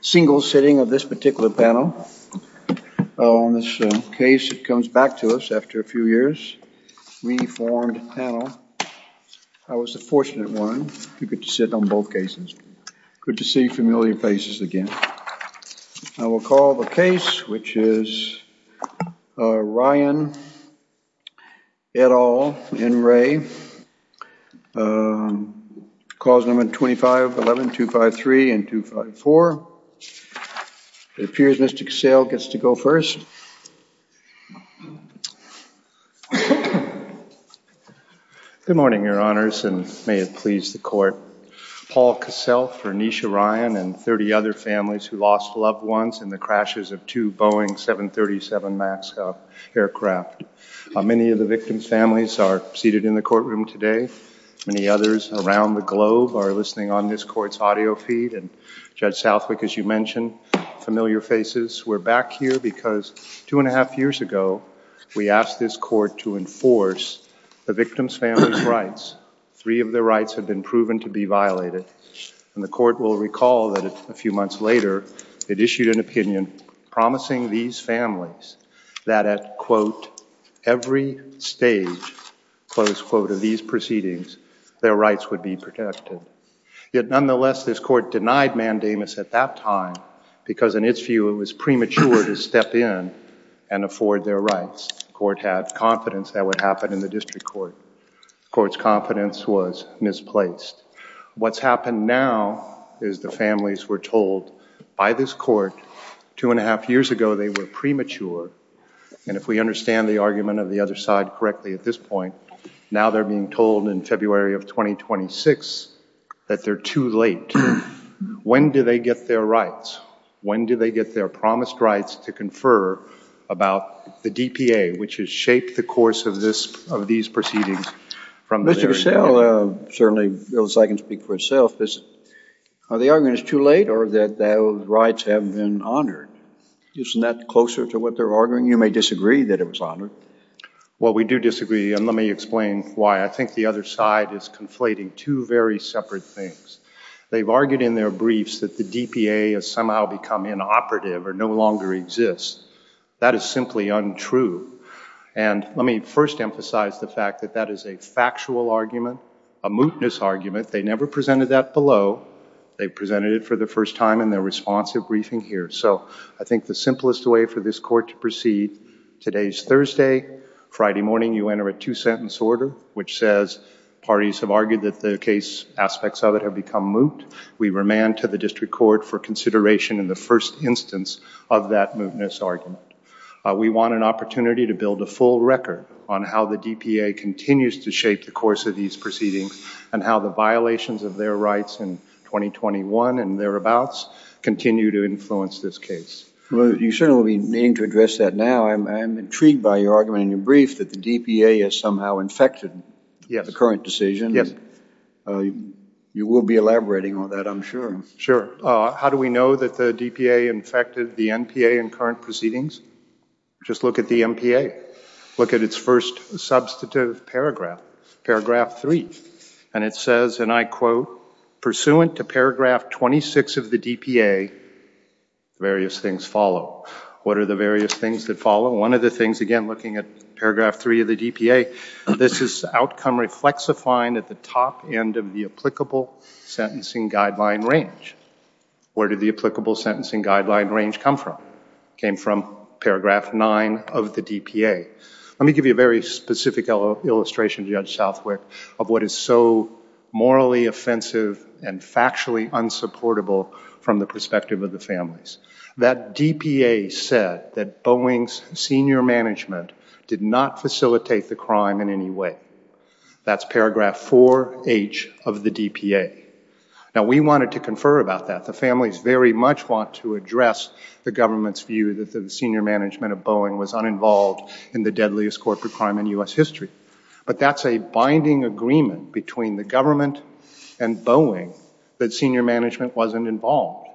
single sitting of this particular panel on this case it comes back to us after a few years we formed panel I was the fortunate one you could sit on both cases good to see familiar faces again I will call the case which is Ryan at all in Ray calls number 25 11 2 5 3 and 2 5 4 it appears Mr. Cassell gets to go first good morning your honors and may it please the court Paul Cassell for Anisha Ryan and 30 other families who lost loved ones in the crashes of two Boeing 737 max aircraft how many of the victim's families are seated in the courtroom today many others around the globe are listening on this court's audio feed and Judge Southwick as you mentioned familiar faces we're back here because two and a half years ago we asked this court to enforce the victim's family's rights three of the rights have been proven to be violated and the court will recall that a few months later it issued an opinion promising these families that at quote every stage close quote of these proceedings their rights would be protected yet nonetheless this court denied mandamus at that time because in its view it was premature to step in and afford their rights court had confidence that would happen in the district court courts confidence was misplaced what's happened now is the families were told by this court two and a half years ago they were premature and if we understand the argument of the other side correctly at this point now they're being told in February of 2026 that they're too late when do they get their rights when do they get their promised rights to confer about the DPA which has shaped the course of this of these proceedings from Mr. Cassell certainly as I can speak for itself is the argument is too late or that those rights have been honored isn't that closer to what they're arguing you may disagree that it was honored well we do disagree and let me explain why I think the other side is conflating two very separate things they've argued in their briefs that the DPA has somehow become inoperative or no longer exists that is simply untrue and let me first emphasize the fact that that is a factual argument a mootness argument they never presented that below they presented it for the first time in their responsive briefing here so I think the simplest way for this court to proceed today's Thursday Friday morning you enter a two-sentence order which says parties have argued that the case aspects of it have become moot we remand to the district court for consideration in the first instance of that mootness argument we want an opportunity to build a full record on how the DPA continues to shape the course of these proceedings and how the violations of their rights in 2021 and thereabouts continue to influence this case well you certainly need to address that now I'm intrigued by your argument in your brief that the DPA is somehow infected yes the current decision yes you will be elaborating on that I'm sure sure how do we know that the DPA infected the NPA and current proceedings just look at the NPA look at its first substantive paragraph paragraph 3 and it says and I quote pursuant to paragraph 26 of the DPA various things follow what are the various things that follow one of the things again looking at paragraph 3 of the DPA this is outcome reflex a fine at the top end of the applicable sentencing guideline range where did the applicable sentencing guideline range come from came from paragraph 9 of the DPA let me give you a very specific illustration judge Southwick of what is so morally offensive and factually unsupportable from the perspective of the families that DPA said that Boeing's senior management did not facilitate the crime in any way that's paragraph 4 H of the DPA now we wanted to confer about that the families very much want to address the government's view that the senior management of Boeing was uninvolved in the deadliest corporate crime in US history but that's a binding agreement between the government and Boeing that senior management wasn't involved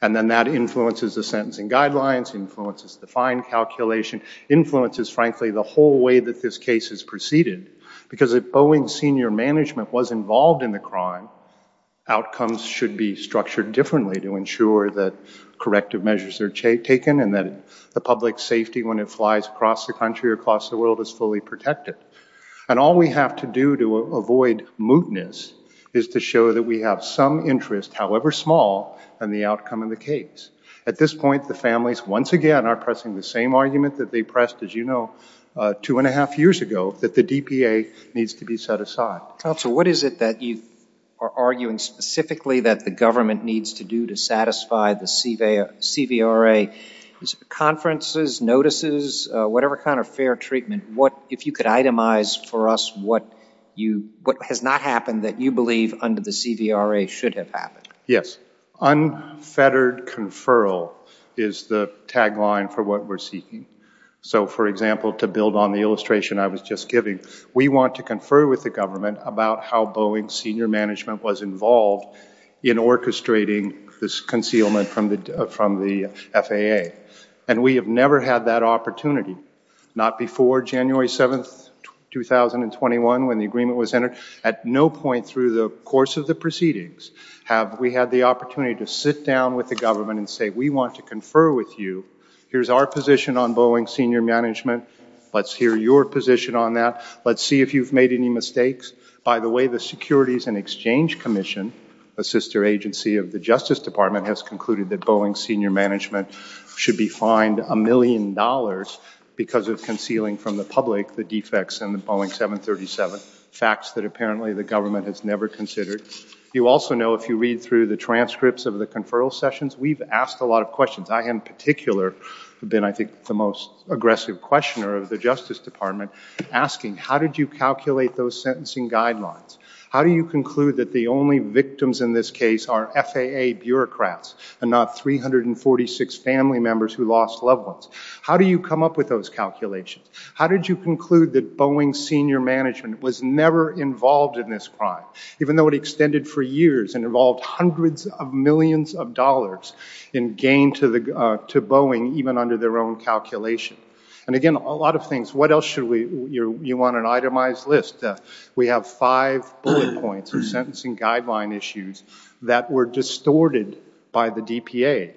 and then that influences the sentencing guidelines influences the fine calculation influences frankly the whole way that this case is preceded because if Boeing senior management was involved in the crime outcomes should be structured differently to ensure that corrective measures are taken and that the public safety when it flies across the country across the world is fully protected and all we have to do to avoid mootness is to show that we have some interest however small and the outcome of the case at this point the families once again are pressing the same argument that they pressed as you know two and a half years ago that the DPA needs to be set aside so what is it that you are arguing specifically that the government needs to do to satisfy the CVA CVRA conferences notices whatever kind of fair treatment what if you could itemize for us what you what has not happened that you believe under the CVRA should have happened yes unfettered conferral is the tagline for what we're seeking so for example to build on the illustration I was just giving we want to confer with the government about how Boeing senior management was involved in orchestrating this concealment from the from the FAA and we have never had that opportunity not before January 7th 2021 when the agreement was entered at no point through the course of the proceedings have we had the opportunity to sit down with the government and say we want to confer with you here's our position on Boeing senior management let's hear your position on that let's see if you've made any mistakes by the way the Securities and Exchange Commission a sister agency of the Justice Department has concluded that Boeing senior management should be fined a million dollars because of concealing from the public the defects and the Boeing 737 facts that apparently the government has never considered you also know if you read through the transcripts of the conferral sessions we've asked a lot of questions I in particular have been I think the most aggressive questioner of the Justice Department asking how did you calculate those sentencing guidelines how do you conclude that the only victims in this case are FAA bureaucrats and not 346 family members who lost loved ones how do you come up with those calculations how did you conclude that Boeing senior management was never involved in this crime even though it extended for years and involved hundreds of millions of dollars in gain to the to Boeing even under their own calculation and again a lot of things what else should we you want an itemized list we have five bullet points and sentencing guideline issues that were distorted by the DPA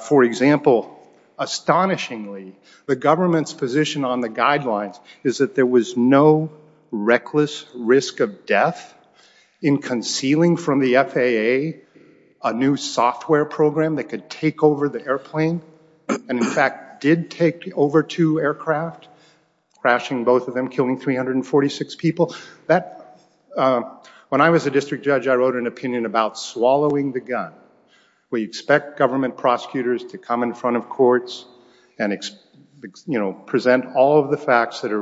for example astonishingly the government's position on the guidelines is that there was no reckless risk of death in concealing from the FAA a new software program that could take over the airplane and in fact did take over two aircraft crashing both of them killing 346 people that when I was a district judge I wrote an opinion about swallowing the gun we expect government prosecutors to come in front of courts and it's you know present all of the facts that are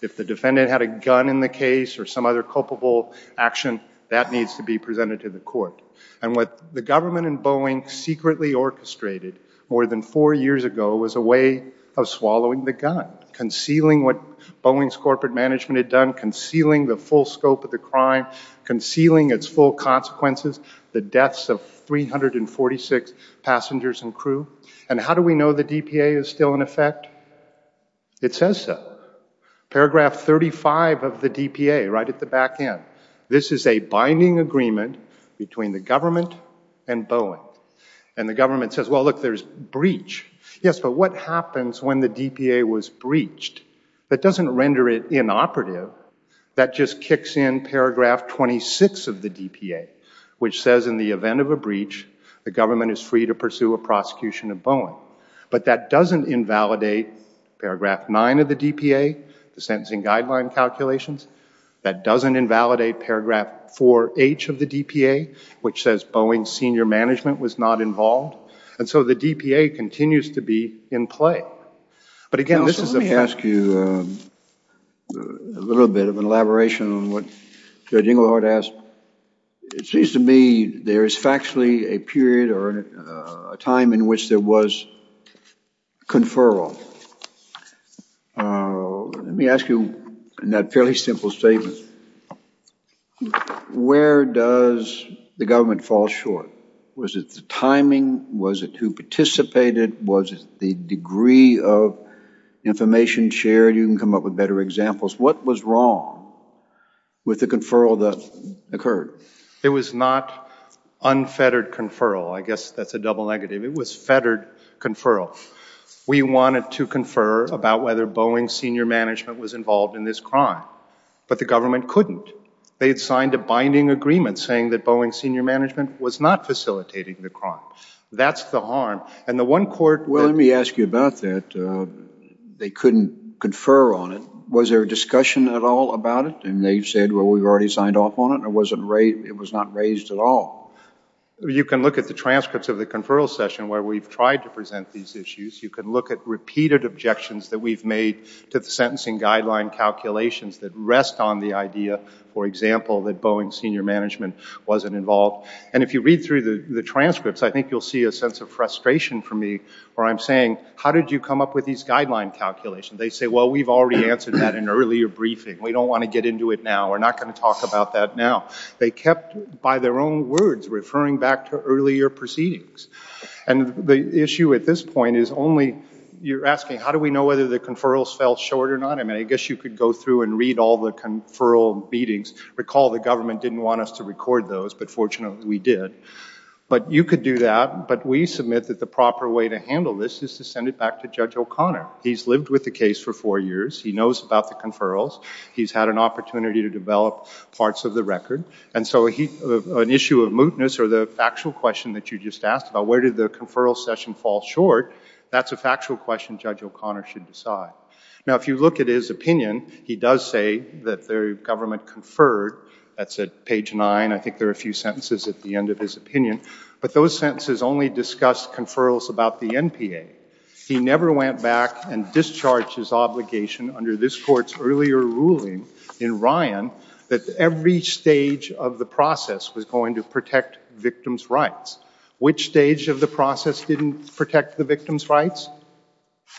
if the defendant had a gun in the case or some other culpable action that needs to be presented to the court and what the government in Boeing secretly orchestrated more than four years ago was a way of swallowing the gun concealing what Boeing's corporate management had done concealing the full scope of the crime concealing its full consequences the deaths of 346 passengers and crew and how do we know the DPA is still in effect it says so paragraph 35 of the DPA right at the back end this is a binding agreement between the government and Boeing and the government says well look there's breach yes but what happens when the DPA was breached that doesn't render it inoperative that just kicks in paragraph 26 of the DPA which says in the event of a breach the government is free to pursue a prosecution of Boeing but that doesn't invalidate paragraph 9 of the DPA the sentencing guideline calculations that doesn't invalidate paragraph 4 H of the DPA which says Boeing senior management was not involved and so the DPA continues to be in play but again this is the past you a little bit of an elaboration on what judging Lord asked it seems to me there is factually a period or a time in which there was conferral let me ask you in that fairly simple statement where does the government fall short was it the timing was it who participated was the degree of information shared you can come up with better examples what was wrong with the conferral that occurred it was not unfettered conferral I guess that's a double negative it was fettered conferral we wanted to confer about whether Boeing senior management was involved in this crime but the government couldn't they had signed a binding agreement saying that Boeing senior management was not facilitating the crime that's the harm and the one court well let me ask you about that they couldn't confer on it was there a question at all about it and they said well we've already signed off on it it wasn't right it was not raised at all you can look at the transcripts of the conferral session where we've tried to present these issues you can look at repeated objections that we've made to the sentencing guideline calculations that rest on the idea for example that Boeing senior management wasn't involved and if you read through the the transcripts I think you'll see a sense of frustration for me or I'm saying how did you come up with these guideline calculations they say well we've already answered that in earlier briefing we don't want to get into it now we're not going to talk about that now they kept by their own words referring back to earlier proceedings and the issue at this point is only you're asking how do we know whether the conferrals fell short or not I mean I guess you could go through and read all the conferral meetings recall the government didn't want us to record those but fortunately we did but you could do that but we submit that the way to handle this is to send it back to Judge O'Connor he's lived with the case for four years he knows about the conferrals he's had an opportunity to develop parts of the record and so he an issue of mootness or the factual question that you just asked about where did the conferral session fall short that's a factual question Judge O'Connor should decide now if you look at his opinion he does say that their government conferred that's at page nine I think there are a few sentences at the end of his opinion but those sentences only discussed conferrals about the NPA he never went back and discharged his obligation under this court's earlier ruling in Ryan that every stage of the process was going to protect victims rights which stage of the process didn't protect the victims rights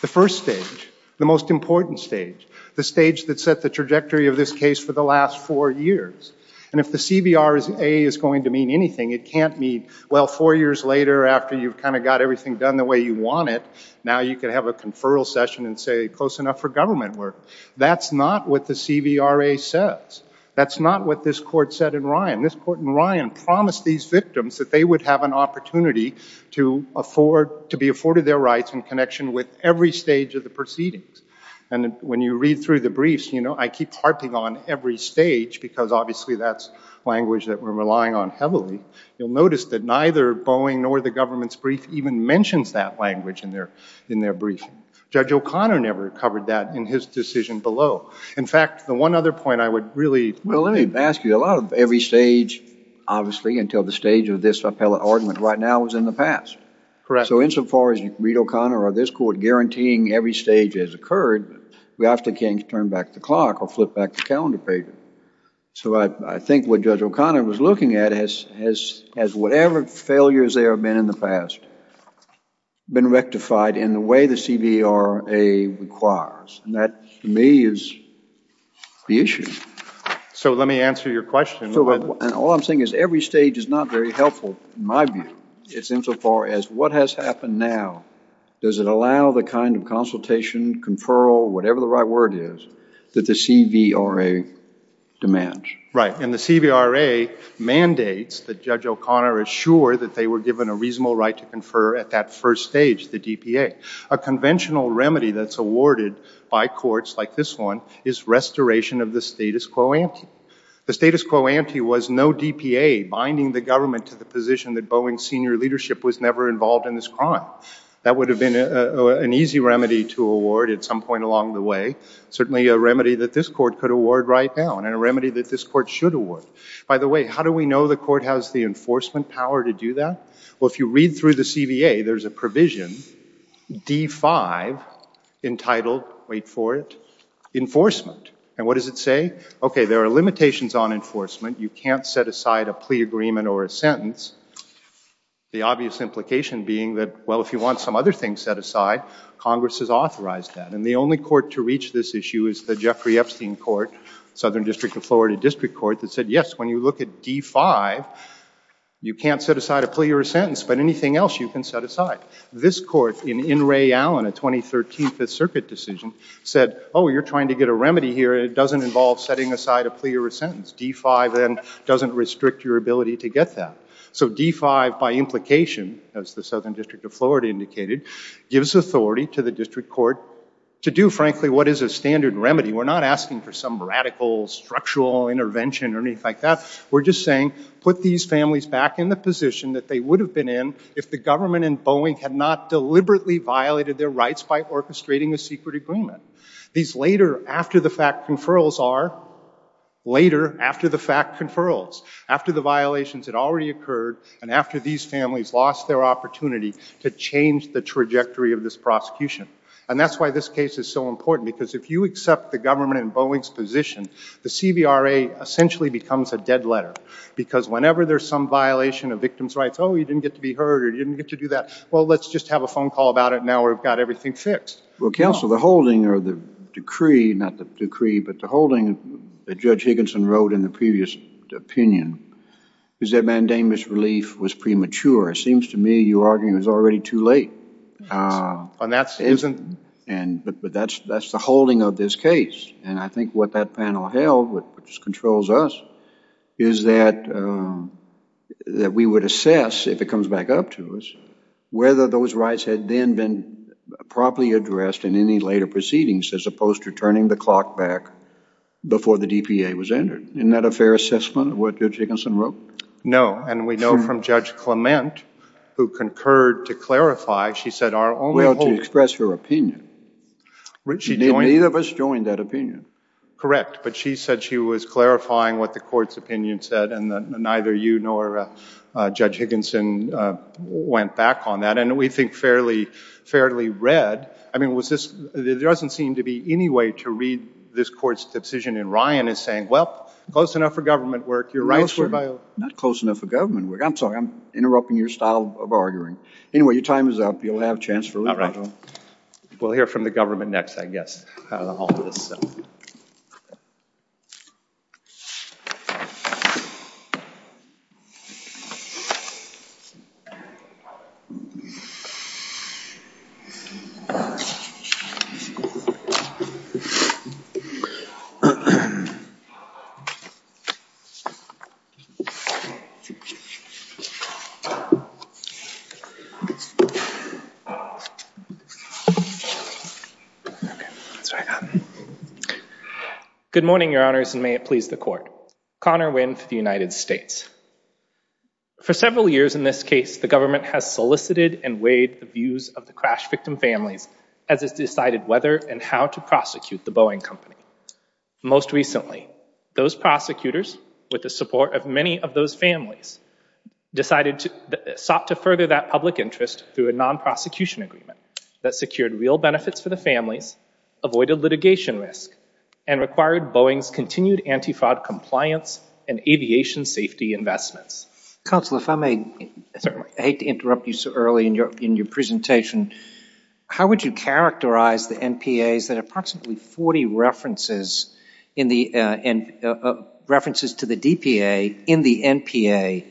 the first stage the most important stage the stage that set the trajectory of this case for the last four years and if the CBR is a is going to mean anything it can't mean well four years later after you've kind of got everything done the way you want it now you can have a conferral session and say close enough for government work that's not what the CVRA says that's not what this court said in Ryan this court in Ryan promised these victims that they would have an opportunity to afford to be afforded their rights in connection with every stage of the proceedings and when you read through the briefs you know I keep harping on every stage because obviously that's language that we're relying on heavily you'll notice that neither Boeing nor the government's brief even mentions that language in there in their brief judge O'Connor never covered that in his decision below in fact the one other point I would really well let me ask you a lot of every stage obviously until the stage of this appellate argument right now is in the past correct so insofar as you read O'Connor or this court guaranteeing every stage has occurred we have to turn back the clock or flip back the calendar page so I think what judge O'Connor was looking at is has as whatever failures there have been in the past been rectified in the way the CVRA requires and that to me is the issue so let me answer your question and all I'm saying is every stage is not very helpful in my view it's insofar as what has happened now does it allow the kind of consultation conferral whatever the right word is that the CVRA demands right and the CVRA mandates that judge O'Connor is sure that they were given a reasonable right to confer at that first stage the DPA a conventional remedy that's awarded by courts like this one is restoration of the status quo ante the status quo ante was no DPA binding the government to the position that Boeing senior leadership was never involved in this crime that would have been an easy remedy to award at some point along the way certainly a remedy that this court could award right now and a remedy that this court should award by the way how do we know the court has the enforcement power to do that well if you read through the CVA there's a provision d5 entitled wait for it enforcement and what does it say okay there are limitations on enforcement you can't set aside a plea agreement or a sentence the obvious implication being that well if you want some other things set aside Congress has authorized that and the only court to reach this issue is the Jeffrey Epstein court Southern District of Florida District Court that said yes when you look at d5 you can't set aside a plea or a sentence but anything else you can set aside this court in in Ray Allen a 2013 5th Circuit decision said oh you're trying to get a remedy here it doesn't involve setting aside a plea or a sentence d5 then doesn't restrict your ability to get that so d5 by implication as the District of Florida indicated gives authority to the district court to do frankly what is a standard remedy we're not asking for some radical structural intervention or anything like that we're just saying put these families back in the position that they would have been in if the government in Boeing had not deliberately violated their rights by orchestrating a secret agreement these later after the fact conferrals are later after the fact conferrals after the violations had already occurred and after these families lost their opportunity to change the trajectory of this prosecution and that's why this case is so important because if you accept the government in Boeing's position the CBRA essentially becomes a dead letter because whenever there's some violation of victims rights oh you didn't get to be heard or you didn't get to do that well let's just have a phone call about it now we've got everything fixed well counsel the holding or the decree not the decree but the holding that judge Higginson wrote in the previous opinion is that mandamus relief was premature it seems to me you arguing was already too late and that's isn't and but but that's that's the holding of this case and I think what that panel held which controls us is that that we would assess if it comes back up to us whether those rights had then been properly addressed in any later proceedings as opposed to turning the clock back before the DPA was entered in that affair assessment what judge Higginson wrote no and we know from judge Clement who concurred to clarify she said our only to express your opinion which she did neither of us joined that opinion correct but she said she was clarifying what the court's opinion said and neither you nor judge Higginson went back on that and we think fairly fairly read I mean was this there doesn't seem to be any way to read this court's decision in Ryan is saying well close enough for government work your rights were not close enough for government work I'm sorry I'm interrupting your style of arguing anyway your time is up you'll have chance for not right we'll hear from the government next I guess good morning your honors and may it please the court Connor Wynn for the United States for several years in this case the government has solicited and weighed the views of the crash victim families as it's decided whether and how to prosecute the Boeing company most recently those prosecutors with the support of many of those families decided to sought to further that public interest through a non-prosecution agreement that secured real benefits for the families avoided litigation risk and required Boeing's continued anti-fraud compliance and aviation safety investments counselor if I may hate to interrupt you so early in your in your presentation how would you characterize the NPAs that approximately 40 references in the and references to the DPA in the NPA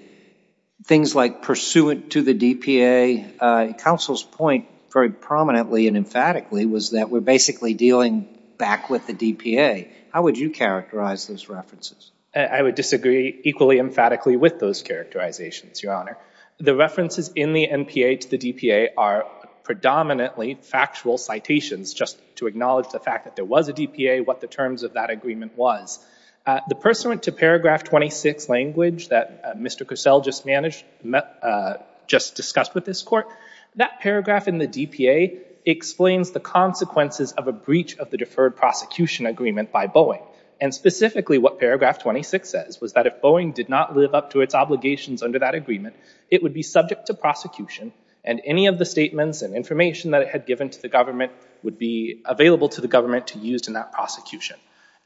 things like pursuant to the DPA counsel's point very prominently and emphatically was that we're basically dealing back with the DPA how would you characterize those references I would disagree equally emphatically with those characterizations your honor the references in the NPA to the DPA are predominantly factual citations just to acknowledge the fact that there was a DPA what the terms of that agreement was the pursuant to paragraph 26 language that mr. Cosell just managed met just discussed with this court that paragraph in the DPA explains the consequences of a breach of the deferred prosecution agreement by Boeing and specifically what paragraph 26 says was that if Boeing did not live up to its obligations under that agreement it would be subject to and any of the statements and information that it had given to the government would be available to the government to used in that prosecution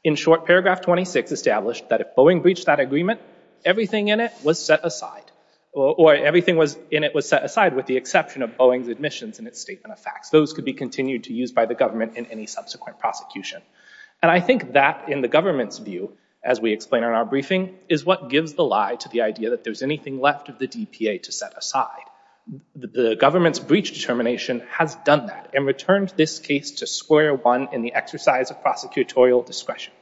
in short paragraph 26 established that if Boeing breached that agreement everything in it was set aside or everything was in it was set aside with the exception of Boeing's admissions in its statement of facts those could be continued to use by the government in any subsequent prosecution and I think that in the government's view as we explain on our briefing is what gives the lie to the idea that there's anything left of the DPA to set aside the government's breach determination has done that and returned this case to square one in the exercise of prosecutorial discretion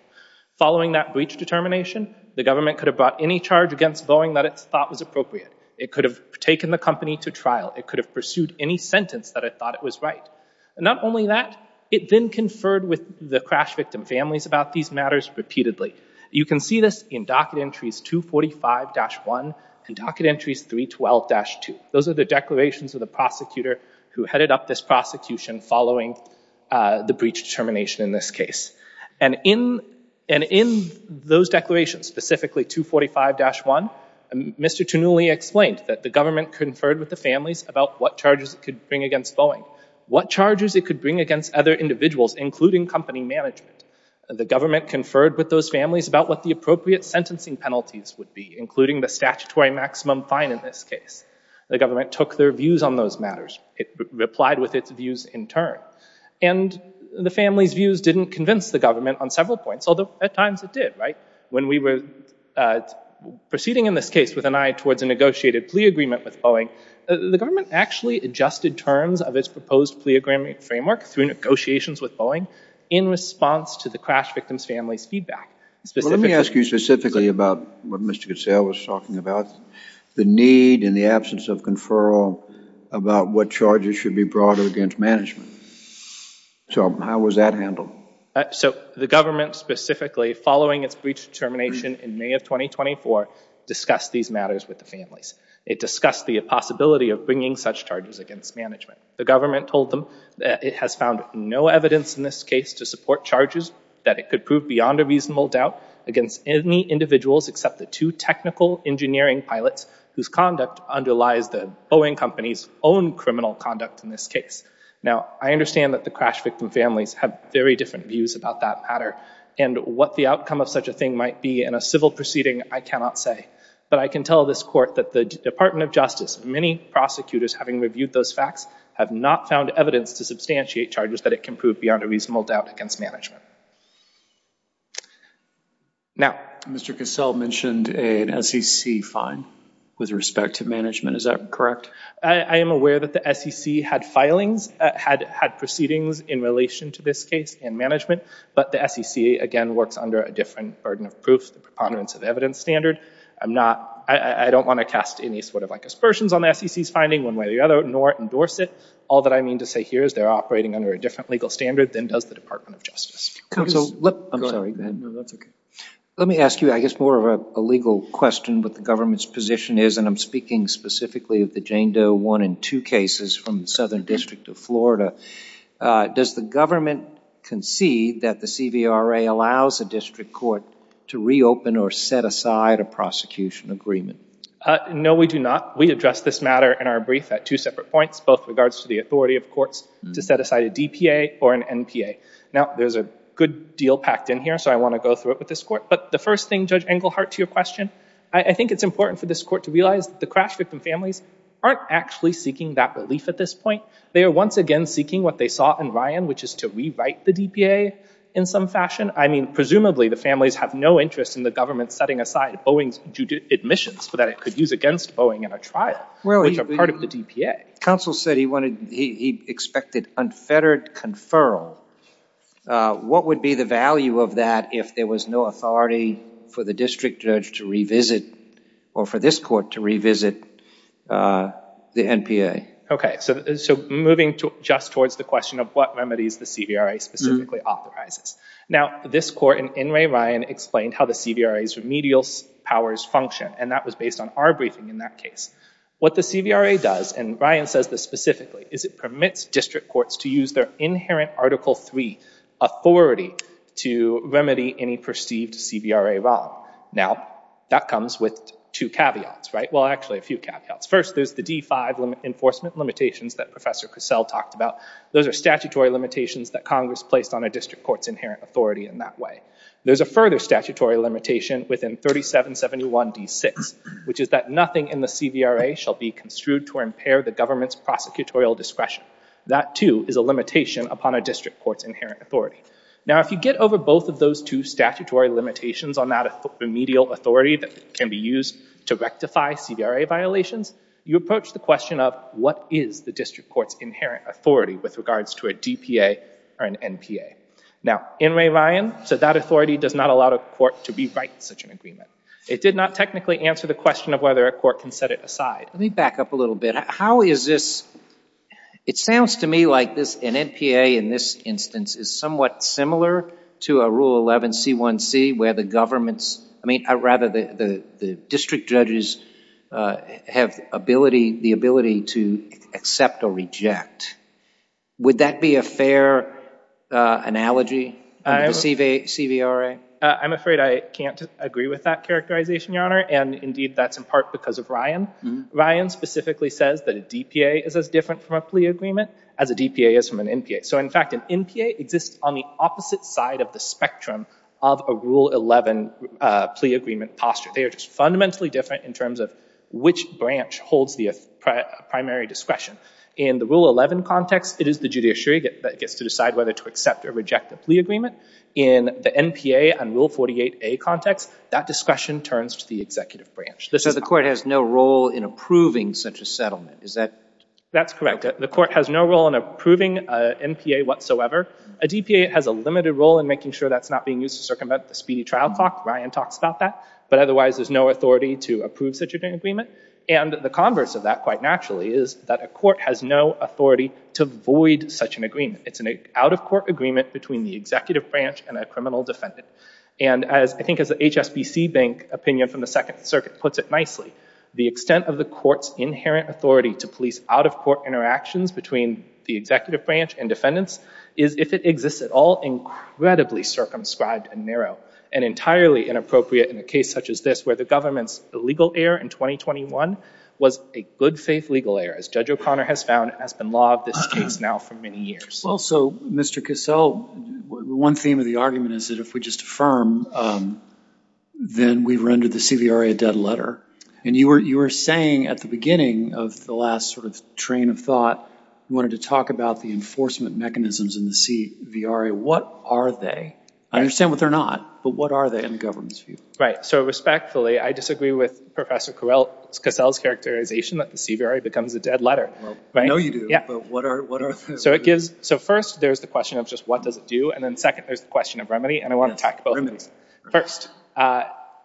following that breach determination the government could have brought any charge against Boeing that it's thought was appropriate it could have taken the company to trial it could have pursued any sentence that I thought it was right and not only that it then conferred with the crash victim families about these matters repeatedly you can see this in docket entries 245-1 and docket entries 312-2 those are the declarations of the prosecutor who headed up this prosecution following the breach determination in this case and in and in those declarations specifically 245-1 and mr. to newly explained that the government conferred with the families about what charges could bring against Boeing what charges it could bring against other individuals including company management the government conferred with those families about what the appropriate sentencing penalties would be including the statutory maximum fine in this case the government took their views on those matters it replied with its views in turn and the family's views didn't convince the government on several points although at times it did right when we were proceeding in this case with an eye towards a negotiated plea agreement with Boeing the government actually adjusted terms of its proposed plea agreement framework through negotiations with Boeing in response to the crash victims families feedback let me ask you specifically about what mr. Goodsell was talking about the need in the absence of conferral about what charges should be brought against management so how was that handled so the government specifically following its breach determination in May of 2024 discussed these matters with the families it discussed the possibility of bringing such charges against management the government told them that it has found no evidence in this case to support charges that it could prove beyond a reasonable doubt against any individuals except the two technical engineering pilots whose conduct underlies the Boeing company's own criminal conduct in this case now I understand that the crash victim families have very different views about that matter and what the outcome of such a thing might be in a civil proceeding I cannot say but I can tell this court that the Department of Justice many prosecutors having reviewed those facts have not found evidence to substantiate charges that it can prove beyond a reasonable doubt against management now mr. Goodsell mentioned an SEC fine with respect to management is that correct I am aware that the SEC had filings had had proceedings in relation to this case and management but the SEC again works under a different burden of proof the preponderance of evidence standard I'm not I don't want to cast any sort of aspersions on SEC's finding one way or the other nor endorse it all that I mean to say here is they're operating under a different legal standard than does the Department of Justice let me ask you I guess more of a legal question but the government's position is and I'm speaking specifically of the Jane Doe one in two cases from Southern District of Florida does the government concede that the CVRA allows a district court to reopen or set aside a prosecution agreement no we do not we address this matter in our brief at two separate points both regards to the authority of courts to set aside a DPA or an NPA now there's a good deal packed in here so I want to go through it with this court but the first thing judge Englehart to your question I think it's important for this court to realize the crash victim families aren't actually seeking that relief at this point they are once again seeking what they saw in Ryan which is to rewrite the DPA in some fashion I mean presumably the families have no interest in the government setting aside Boeing's admissions for that it could use against Boeing in a trial well you're part of the DPA counsel said he wanted he expected unfettered conferral what would be the value of that if there was no authority for the district judge to revisit or for this court to revisit the NPA okay so moving to just towards the question of what remedies the CVRA specifically authorizes now this court and in Ray Ryan explained how the CVRA remedial powers function and that was based on our briefing in that case what the CVRA does and Ryan says this specifically is it permits district courts to use their inherent article 3 authority to remedy any perceived CVRA wrong now that comes with two caveats right well actually a few caveats first there's the d5 enforcement limitations that professor Cassell talked about those are statutory limitations that Congress placed on a district courts inherent authority in that way there's a further statutory limitation within 37 71 d6 which is that nothing in the CVRA shall be construed to impair the government's prosecutorial discretion that too is a limitation upon a district courts inherent authority now if you get over both of those two statutory limitations on that remedial authority that can be used to rectify CVRA violations you approach the question of what is the district courts inherent authority with regards to a DPA or an NPA now in Ray Ryan said that authority does not allow the court to be right such an agreement it did not technically answer the question of whether a court can set it aside let me back up a little bit how is this it sounds to me like this an NPA in this instance is somewhat similar to a rule 11 c1c where the government's I mean I rather the the would that be a fair analogy I receive a CVRA I'm afraid I can't agree with that characterization your honor and indeed that's in part because of Ryan Ryan specifically says that a DPA is as different from a plea agreement as a DPA is from an NPA so in fact an NPA exists on the opposite side of the spectrum of a rule 11 plea agreement posture they are just fundamentally different in terms of which branch holds the primary discretion in the rule 11 context it is the judiciary that gets to decide whether to accept or reject a plea agreement in the NPA and rule 48 a context that discretion turns to the executive branch this is the court has no role in approving such a settlement is that that's correct the court has no role in approving NPA whatsoever a DPA has a limited role in making sure that's not being used to circumvent the speedy trial clock Ryan talks about that but otherwise there's no authority to approve such an agreement and the converse of that quite naturally is that a court has no authority to void such an agreement it's an out-of-court agreement between the executive branch and a criminal defendant and as I think as the HSBC bank opinion from the Second Circuit puts it nicely the extent of the courts inherent authority to police out-of-court interactions between the executive branch and defendants is if it exists at all incredibly circumscribed and narrow and entirely inappropriate in a case such as this where the government's illegal heir in 2021 was a good-faith legal heir as Judge O'Connor has found has been law of this case now for many years well so mr. Cassell one theme of the argument is that if we just affirm then we've rendered the CVRA a dead letter and you were you were saying at the beginning of the last sort of train of thought you wanted to talk about the enforcement mechanisms in the CVRA what are they I understand what they're not but what are they in the respectfully I disagree with Professor Cassell's characterization that the CVRA becomes a dead letter I know you do yeah so it gives so first there's the question of just what does it do and then second there's the question of remedy and I want to talk about this first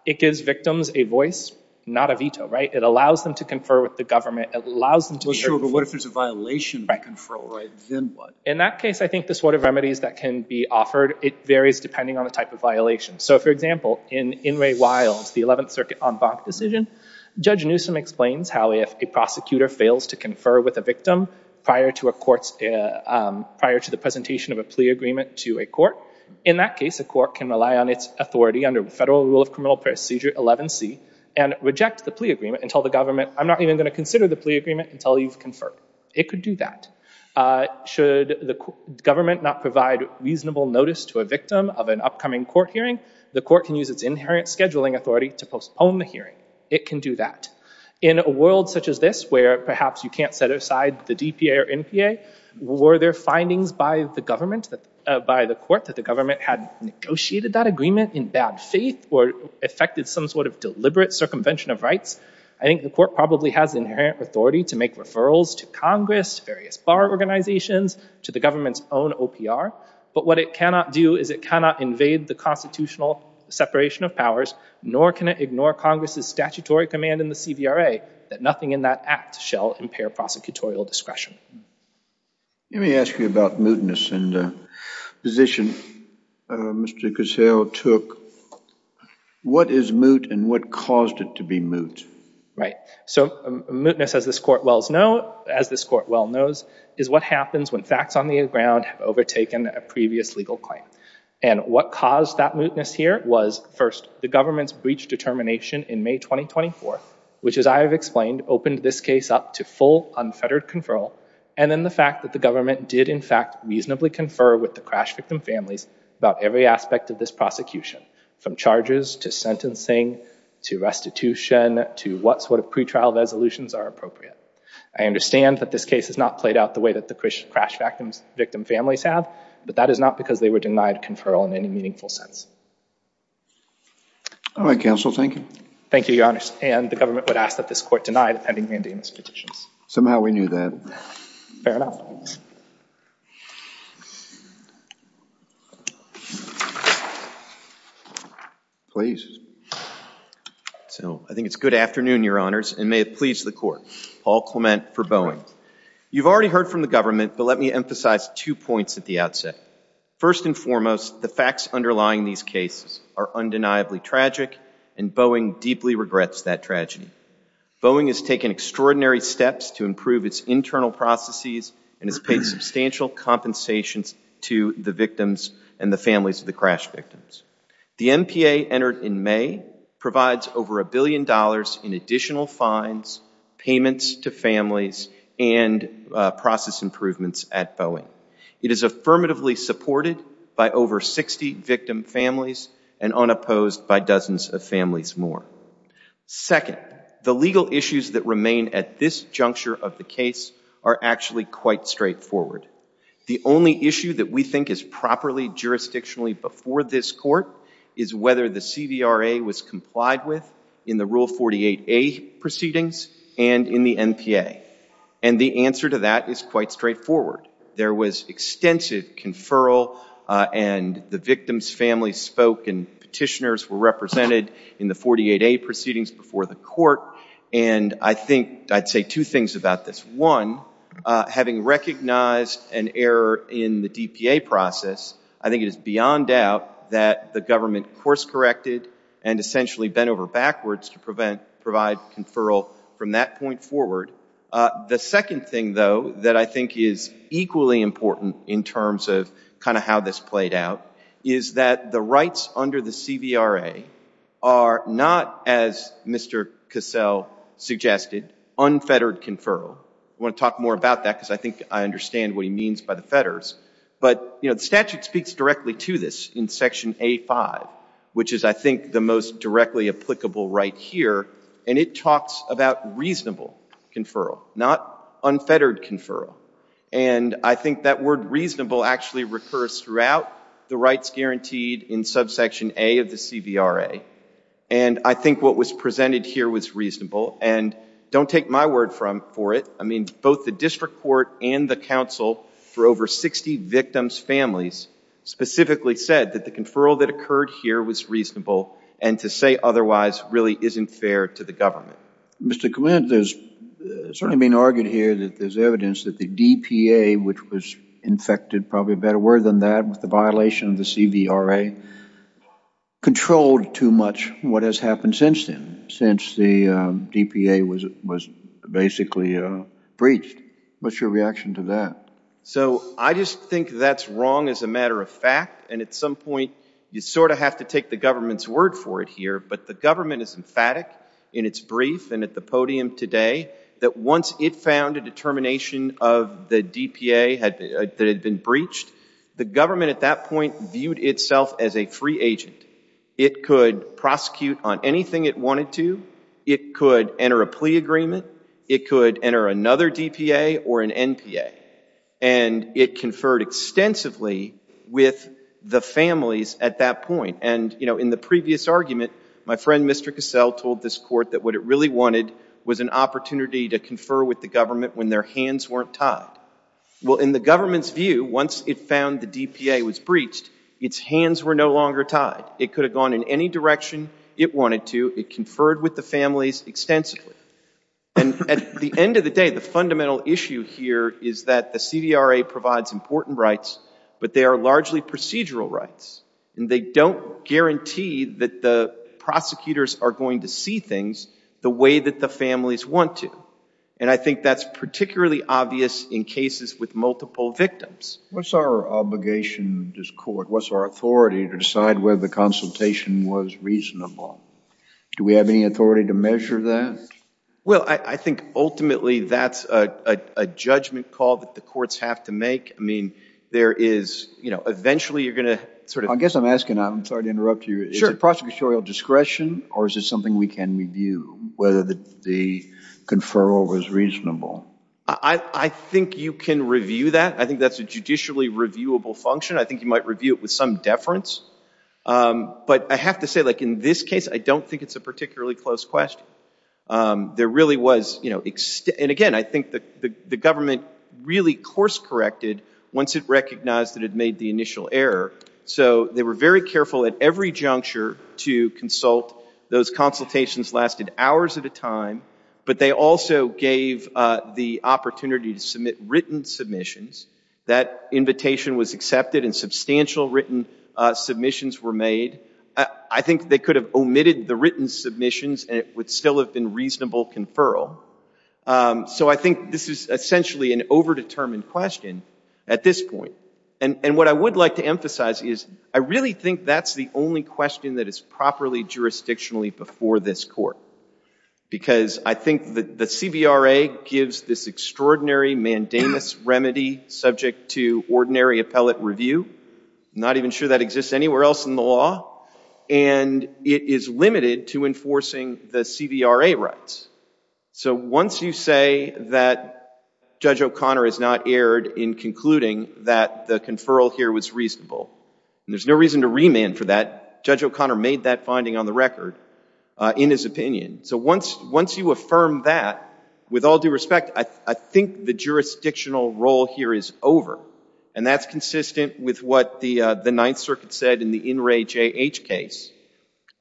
it gives victims a voice not a veto right it allows them to confer with the government allows them to be sure but what if there's a violation by conferral right then what in that case I think this word of remedies that can be offered it varies depending on the type of violation so for example in in Ray Wilds the 11th circuit on Bach decision judge Newsom explains how if a prosecutor fails to confer with a victim prior to a courts prior to the presentation of a plea agreement to a court in that case a court can rely on its authority under federal rule of criminal procedure 11c and reject the plea agreement until the government I'm not even going to consider the plea agreement until you've conferred it could do that should the government not provide reasonable notice to a victim of an upcoming court hearing the court can use its inherent scheduling authority to postpone the hearing it can do that in a world such as this where perhaps you can't set aside the DPA or NPA were there findings by the government that by the court that the government had negotiated that agreement in bad faith or affected some sort of deliberate circumvention of rights I think the court probably has inherent authority to make referrals to Congress various bar organizations to the government's own OPR but what it cannot do is it cannot invade the constitutional separation of powers nor can it ignore Congress's statutory command in the CVRA that nothing in that act shall impair prosecutorial discretion let me ask you about mootness and position mr. gazelle took what is moot and what caused it to be moot right so mootness as this court Wells know as this court well knows is what happens when facts on the ground have overtaken a previous legal claim and what caused that mootness here was first the government's breach determination in May 2024 which as I have explained opened this case up to full unfettered conferral and then the fact that the government did in fact reasonably confer with the crash victim families about every aspect of this prosecution from charges to sentencing to restitution to what sort of pretrial resolutions are appropriate I understand that this case has not played out the way that the crash victims victim families have but that is not because they were denied conferral in any meaningful sense all right counsel thank you thank you your honor and the government would ask that this court denied pending mandamus petitions somehow we knew that please so I think it's good afternoon your honors and may it please the court Paul Clement for Boeing you've already heard from the government but let me emphasize two points at the outset first and foremost the facts underlying these cases are undeniably tragic and Boeing deeply regrets that tragedy Boeing has taken extraordinary steps to improve its internal processes and has paid substantial compensations to the victims and the families of the crash victims the MPA entered in May provides over a billion dollars in additional fines payments to families and process improvements at Boeing it is affirmatively supported by over 60 victim families and unopposed by dozens of families more second the legal issues that remain at this juncture of the case are actually quite straightforward the only issue that we think is properly jurisdictionally before this court is whether the CVRA was complied with in the rule 48 a proceedings and in the MPA and the answer to that is quite straightforward there was extensive conferral and the victims families spoke and petitioners were represented in the 48 a proceedings before the court and I think I'd say two things about this one having recognized an error in the DPA process I think it is beyond doubt that the government course-corrected and provide conferral from that point forward the second thing though that I think is equally important in terms of kind of how this played out is that the rights under the CVRA are not as Mr. Cassell suggested unfettered conferral I want to talk more about that because I think I understand what he means by the fetters but you know the statute speaks directly to this in section a5 which is I think the most directly applicable right here and it talks about reasonable conferral not unfettered conferral and I think that word reasonable actually recurs throughout the rights guaranteed in subsection a of the CVRA and I think what was presented here was reasonable and don't take my word from for it I mean both the district court and the council for over 60 victims families specifically said that the conferral that occurred here was reasonable and to say otherwise really isn't fair to the government mr. command there's certainly been argued here that there's evidence that the DPA which was infected probably better word than that with the violation of the CVRA controlled too much what has happened since then since the DPA was it was basically breached what's your reaction to that so I just think that's wrong as a matter of fact and at some point you sort of have to take the government's word for it here but the government is emphatic in its brief and at the podium today that once it found a determination of the DPA had been breached the government at that point viewed itself as a free agent it could prosecute on anything it wanted to it could enter a plea agreement it could enter another DPA or an NPA and it conferred extensively with the families at that point and you know in the previous argument my friend Mr. Cassell told this court that what it really wanted was an opportunity to confer with the government when their hands weren't tied well in the government's view once it found the DPA was breached its hands were no longer tied it could have gone in any direction it wanted to it conferred with the families extensively and at the end of the day the fundamental issue here is that the CDRA provides important rights but they are largely procedural rights and they don't guarantee that the prosecutors are going to see things the way that the families want to and I think that's particularly obvious in cases with multiple victims what's our obligation this court what's our authority to decide whether the consultation was reasonable do we have any authority to measure that well I think ultimately that's a judgment call that the courts have to make I mean there is you know eventually you're gonna sort of I guess I'm asking I'm sorry to interrupt you sure prosecutorial discretion or is it something we can review whether the conferral was reasonable I think you can review that I think that's a judicially reviewable function I think you might review it with some deference but I have to say like in this case I don't think it's a particularly close question there really was you know and again I think that the government really course corrected once it recognized that it made the initial error so they were very careful at every juncture to consult those consultations lasted hours at a time but they also gave the opportunity to submit written submissions that invitation was accepted and substantial written submissions were made I think they could have omitted the written submissions and it would still have been reasonable conferral so I think this is essentially an over-determined question at this point and and what I would like to emphasize is I really think that's the only question that is properly jurisdictionally before this court because I think that the CBRA gives this extraordinary mandamus remedy subject to ordinary appellate review not even sure that exists anywhere else in the law and it is limited to enforcing the CBRA rights so once you say that Judge O'Connor is not aired in concluding that the conferral here was reasonable and there's no reason to remand for that Judge O'Connor made that finding on the record in his opinion so once once you affirm that with all due respect I think the jurisdictional role here is over and that's consistent with what the the Ninth Circuit said in the In Re J.H. case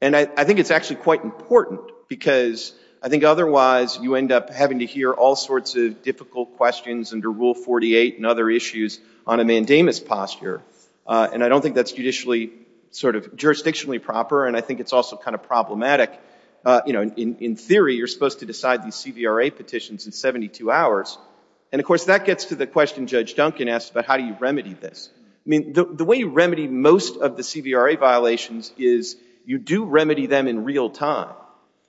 and I think it's actually quite important because I think otherwise you end up having to hear all sorts of difficult questions under Rule 48 and other issues on a mandamus posture and I don't think that's judicially sort of jurisdictionally proper and I think it's also kind of problematic you know in theory you're supposed to decide these CBRA petitions in 72 hours and of course that gets to the question Judge Duncan asked about how do you remedy this I mean the way you remedy most of the CBRA violations is you do remedy them in real time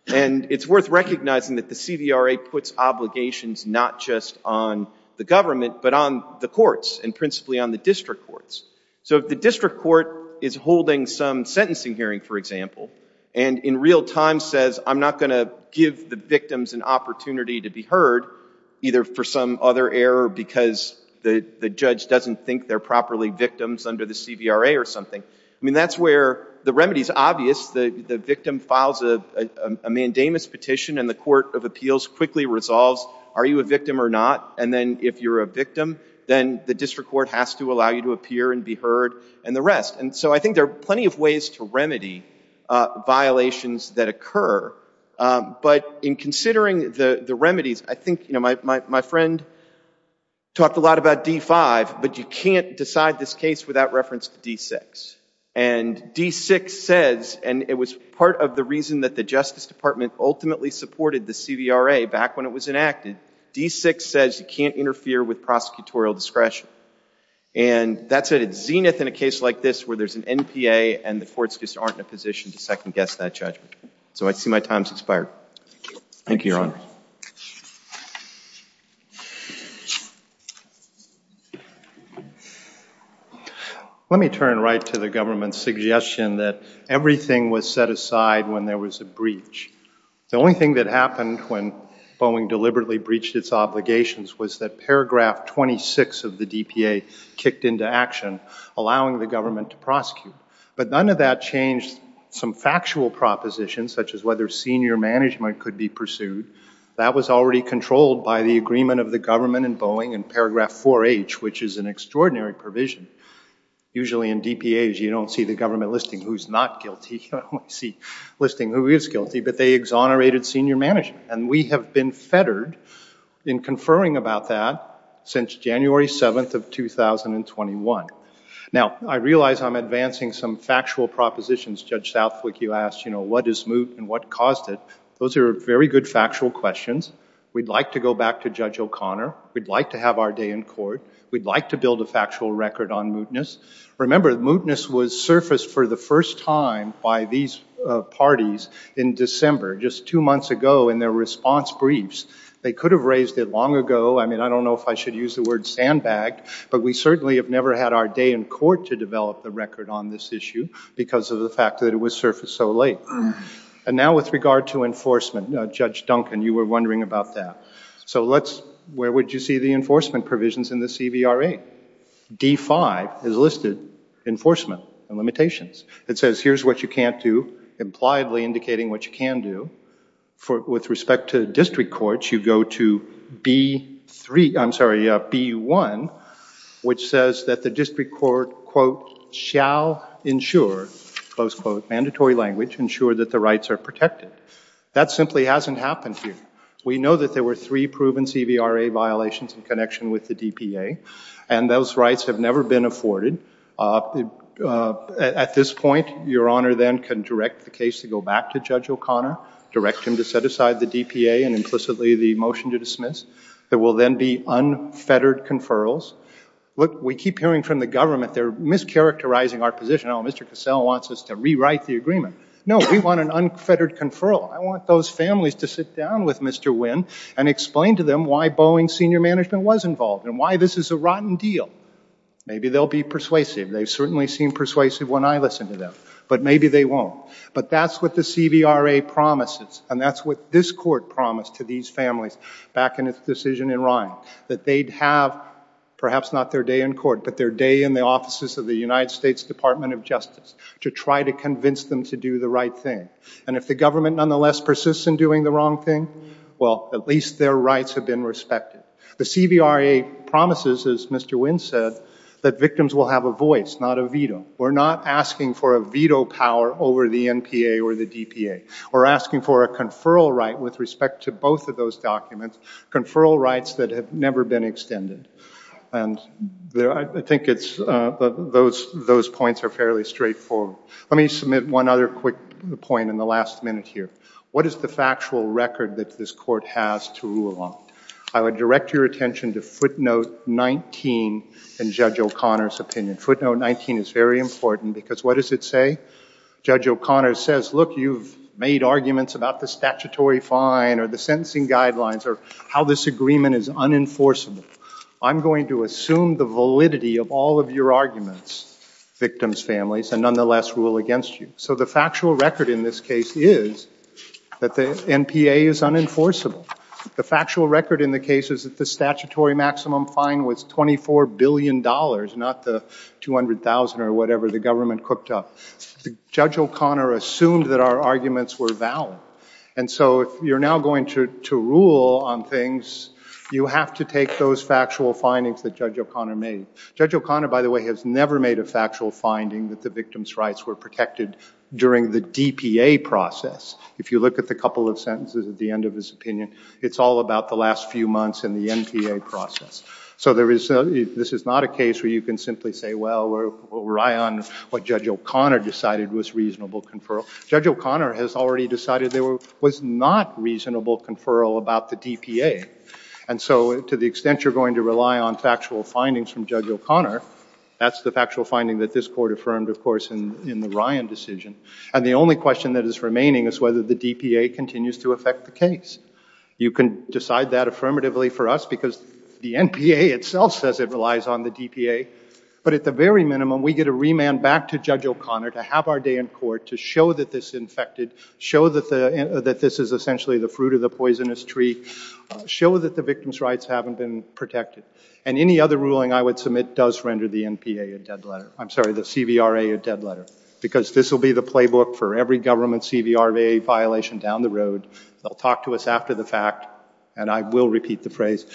and it's worth recognizing that the CBRA puts obligations not just on the government but on the courts and principally on the district courts so if the district court is holding some sentencing hearing for example and in real time says I'm not going to give the victims an opportunity to be heard either for some other error because the judge doesn't think they're properly victims under the CBRA or something I mean that's where the remedy is obvious the victim files a mandamus petition and the Court of Appeals quickly resolves are you a victim or not and then if you're a victim then the district court has to allow you to appear and be heard and the rest and so I think there are plenty of to remedy violations that occur but in considering the the remedies I think you know my friend talked a lot about d5 but you can't decide this case without reference to d6 and d6 says and it was part of the reason that the Justice Department ultimately supported the CBRA back when it was enacted d6 says you can't interfere with prosecutorial discretion and that's at its zenith in a position to second-guess that judgment so I see my time's expired thank you your honor let me turn right to the government's suggestion that everything was set aside when there was a breach the only thing that happened when Boeing deliberately breached its obligations was that paragraph 26 of the DPA kicked into action allowing the government to prosecute but none of that changed some factual propositions such as whether senior management could be pursued that was already controlled by the agreement of the government and Boeing and paragraph 4h which is an extraordinary provision usually in DPAs you don't see the government listing who's not guilty see listing who is guilty but they exonerated senior management and we have been fettered in conferring about that since January 7th of 2021 now I realize I'm advancing some factual propositions judge Southwick you asked you know what is moot and what caused it those are very good factual questions we'd like to go back to judge O'Connor we'd like to have our day in court we'd like to build a factual record on mootness remember mootness was surfaced for the first time by these parties in December just two months ago in their response briefs they could have raised it long ago I mean I don't know if I should use the word sandbag but we certainly have never had our day in court to develop the record on this issue because of the fact that it was surfaced so late and now with regard to enforcement judge Duncan you were wondering about that so let's where would you see the enforcement provisions in the CVRA D5 is listed enforcement and limitations it says here's what you can't do impliedly indicating what you can do for with respect to district courts you go to be three I'm sorry be one which says that the district court quote shall ensure close quote mandatory language ensure that the rights are protected that simply hasn't happened here we know that there were three proven CVRA violations in connection with the DPA and those rights have never been afforded at this point your honor then can direct the case to go back to O'Connor direct him to set aside the DPA and implicitly the motion to dismiss there will then be unfettered conferrals look we keep hearing from the government they're mischaracterizing our position on mr. Cassell wants us to rewrite the agreement no we want an unfettered conferral I want those families to sit down with mr. Wynn and explain to them why Boeing senior management was involved and why this is a rotten deal maybe they'll be persuasive they've certainly seen persuasive when I listen to them but maybe they won't but that's what the CVRA promises and that's what this court promised to these families back in its decision in Ryan that they'd have perhaps not their day in court but their day in the offices of the United States Department of Justice to try to convince them to do the right thing and if the government nonetheless persists in doing the wrong thing well at least their rights have been respected the CVRA promises as mr. Wynn said that victims will have a voice not a veto we're not asking for a veto power over the NPA or the DPA we're asking for a conferral right with respect to both of those documents conferral rights that have never been extended and there I think it's those those points are fairly straightforward let me submit one other quick point in the last minute here what is the factual record that this court has to rule on I would direct your attention to footnote 19 and judge O'Connor's opinion footnote 19 is very important because what does it say judge O'Connor says look you've made arguments about the statutory fine or the sentencing guidelines or how this agreement is unenforceable I'm going to assume the validity of all of your arguments victims families and nonetheless rule against you so the factual record in this case is that the NPA is unenforceable the factual record in the case is that the statutory maximum fine was 24 billion dollars not the 200,000 or whatever the government cooked up the judge O'Connor assumed that our arguments were valid and so if you're now going to rule on things you have to take those factual findings that judge O'Connor made judge O'Connor by the way has never made a factual finding that the victims rights were protected during the DPA process if you look at the couple of sentences at the end of his opinion it's all about the last few months in the NPA process so there is this is not a case where you can simply say well we rely on what judge O'Connor decided was reasonable conferral judge O'Connor has already decided there was not reasonable conferral about the DPA and so to the extent you're going to rely on factual findings from judge O'Connor that's the factual finding that this court affirmed of course in the Ryan decision and the only question that is remaining is whether the DPA continues to affect the case you can decide that affirmatively for us because the NPA itself says it relies on the DPA but at the very minimum we get a remand back to judge O'Connor to have our day in court to show that this infected show that the that this is essentially the fruit of the poisonous tree show that the victims rights haven't been protected and any other ruling I would submit does render the NPA a dead letter I'm sorry the CVRA a dead letter because this will be the playbook for every government CVRA violation down the road they'll talk to us after the fact and I will repeat the phrase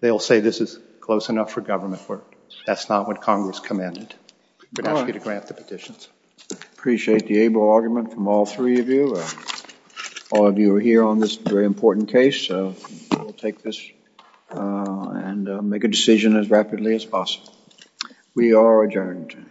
they'll say this is close enough for government work that's not what Congress commended but I'm going to grant the petitions appreciate the able argument from all three of you all of you are here on this very important case so we'll take this and make a decision as rapidly as possible we are adjourned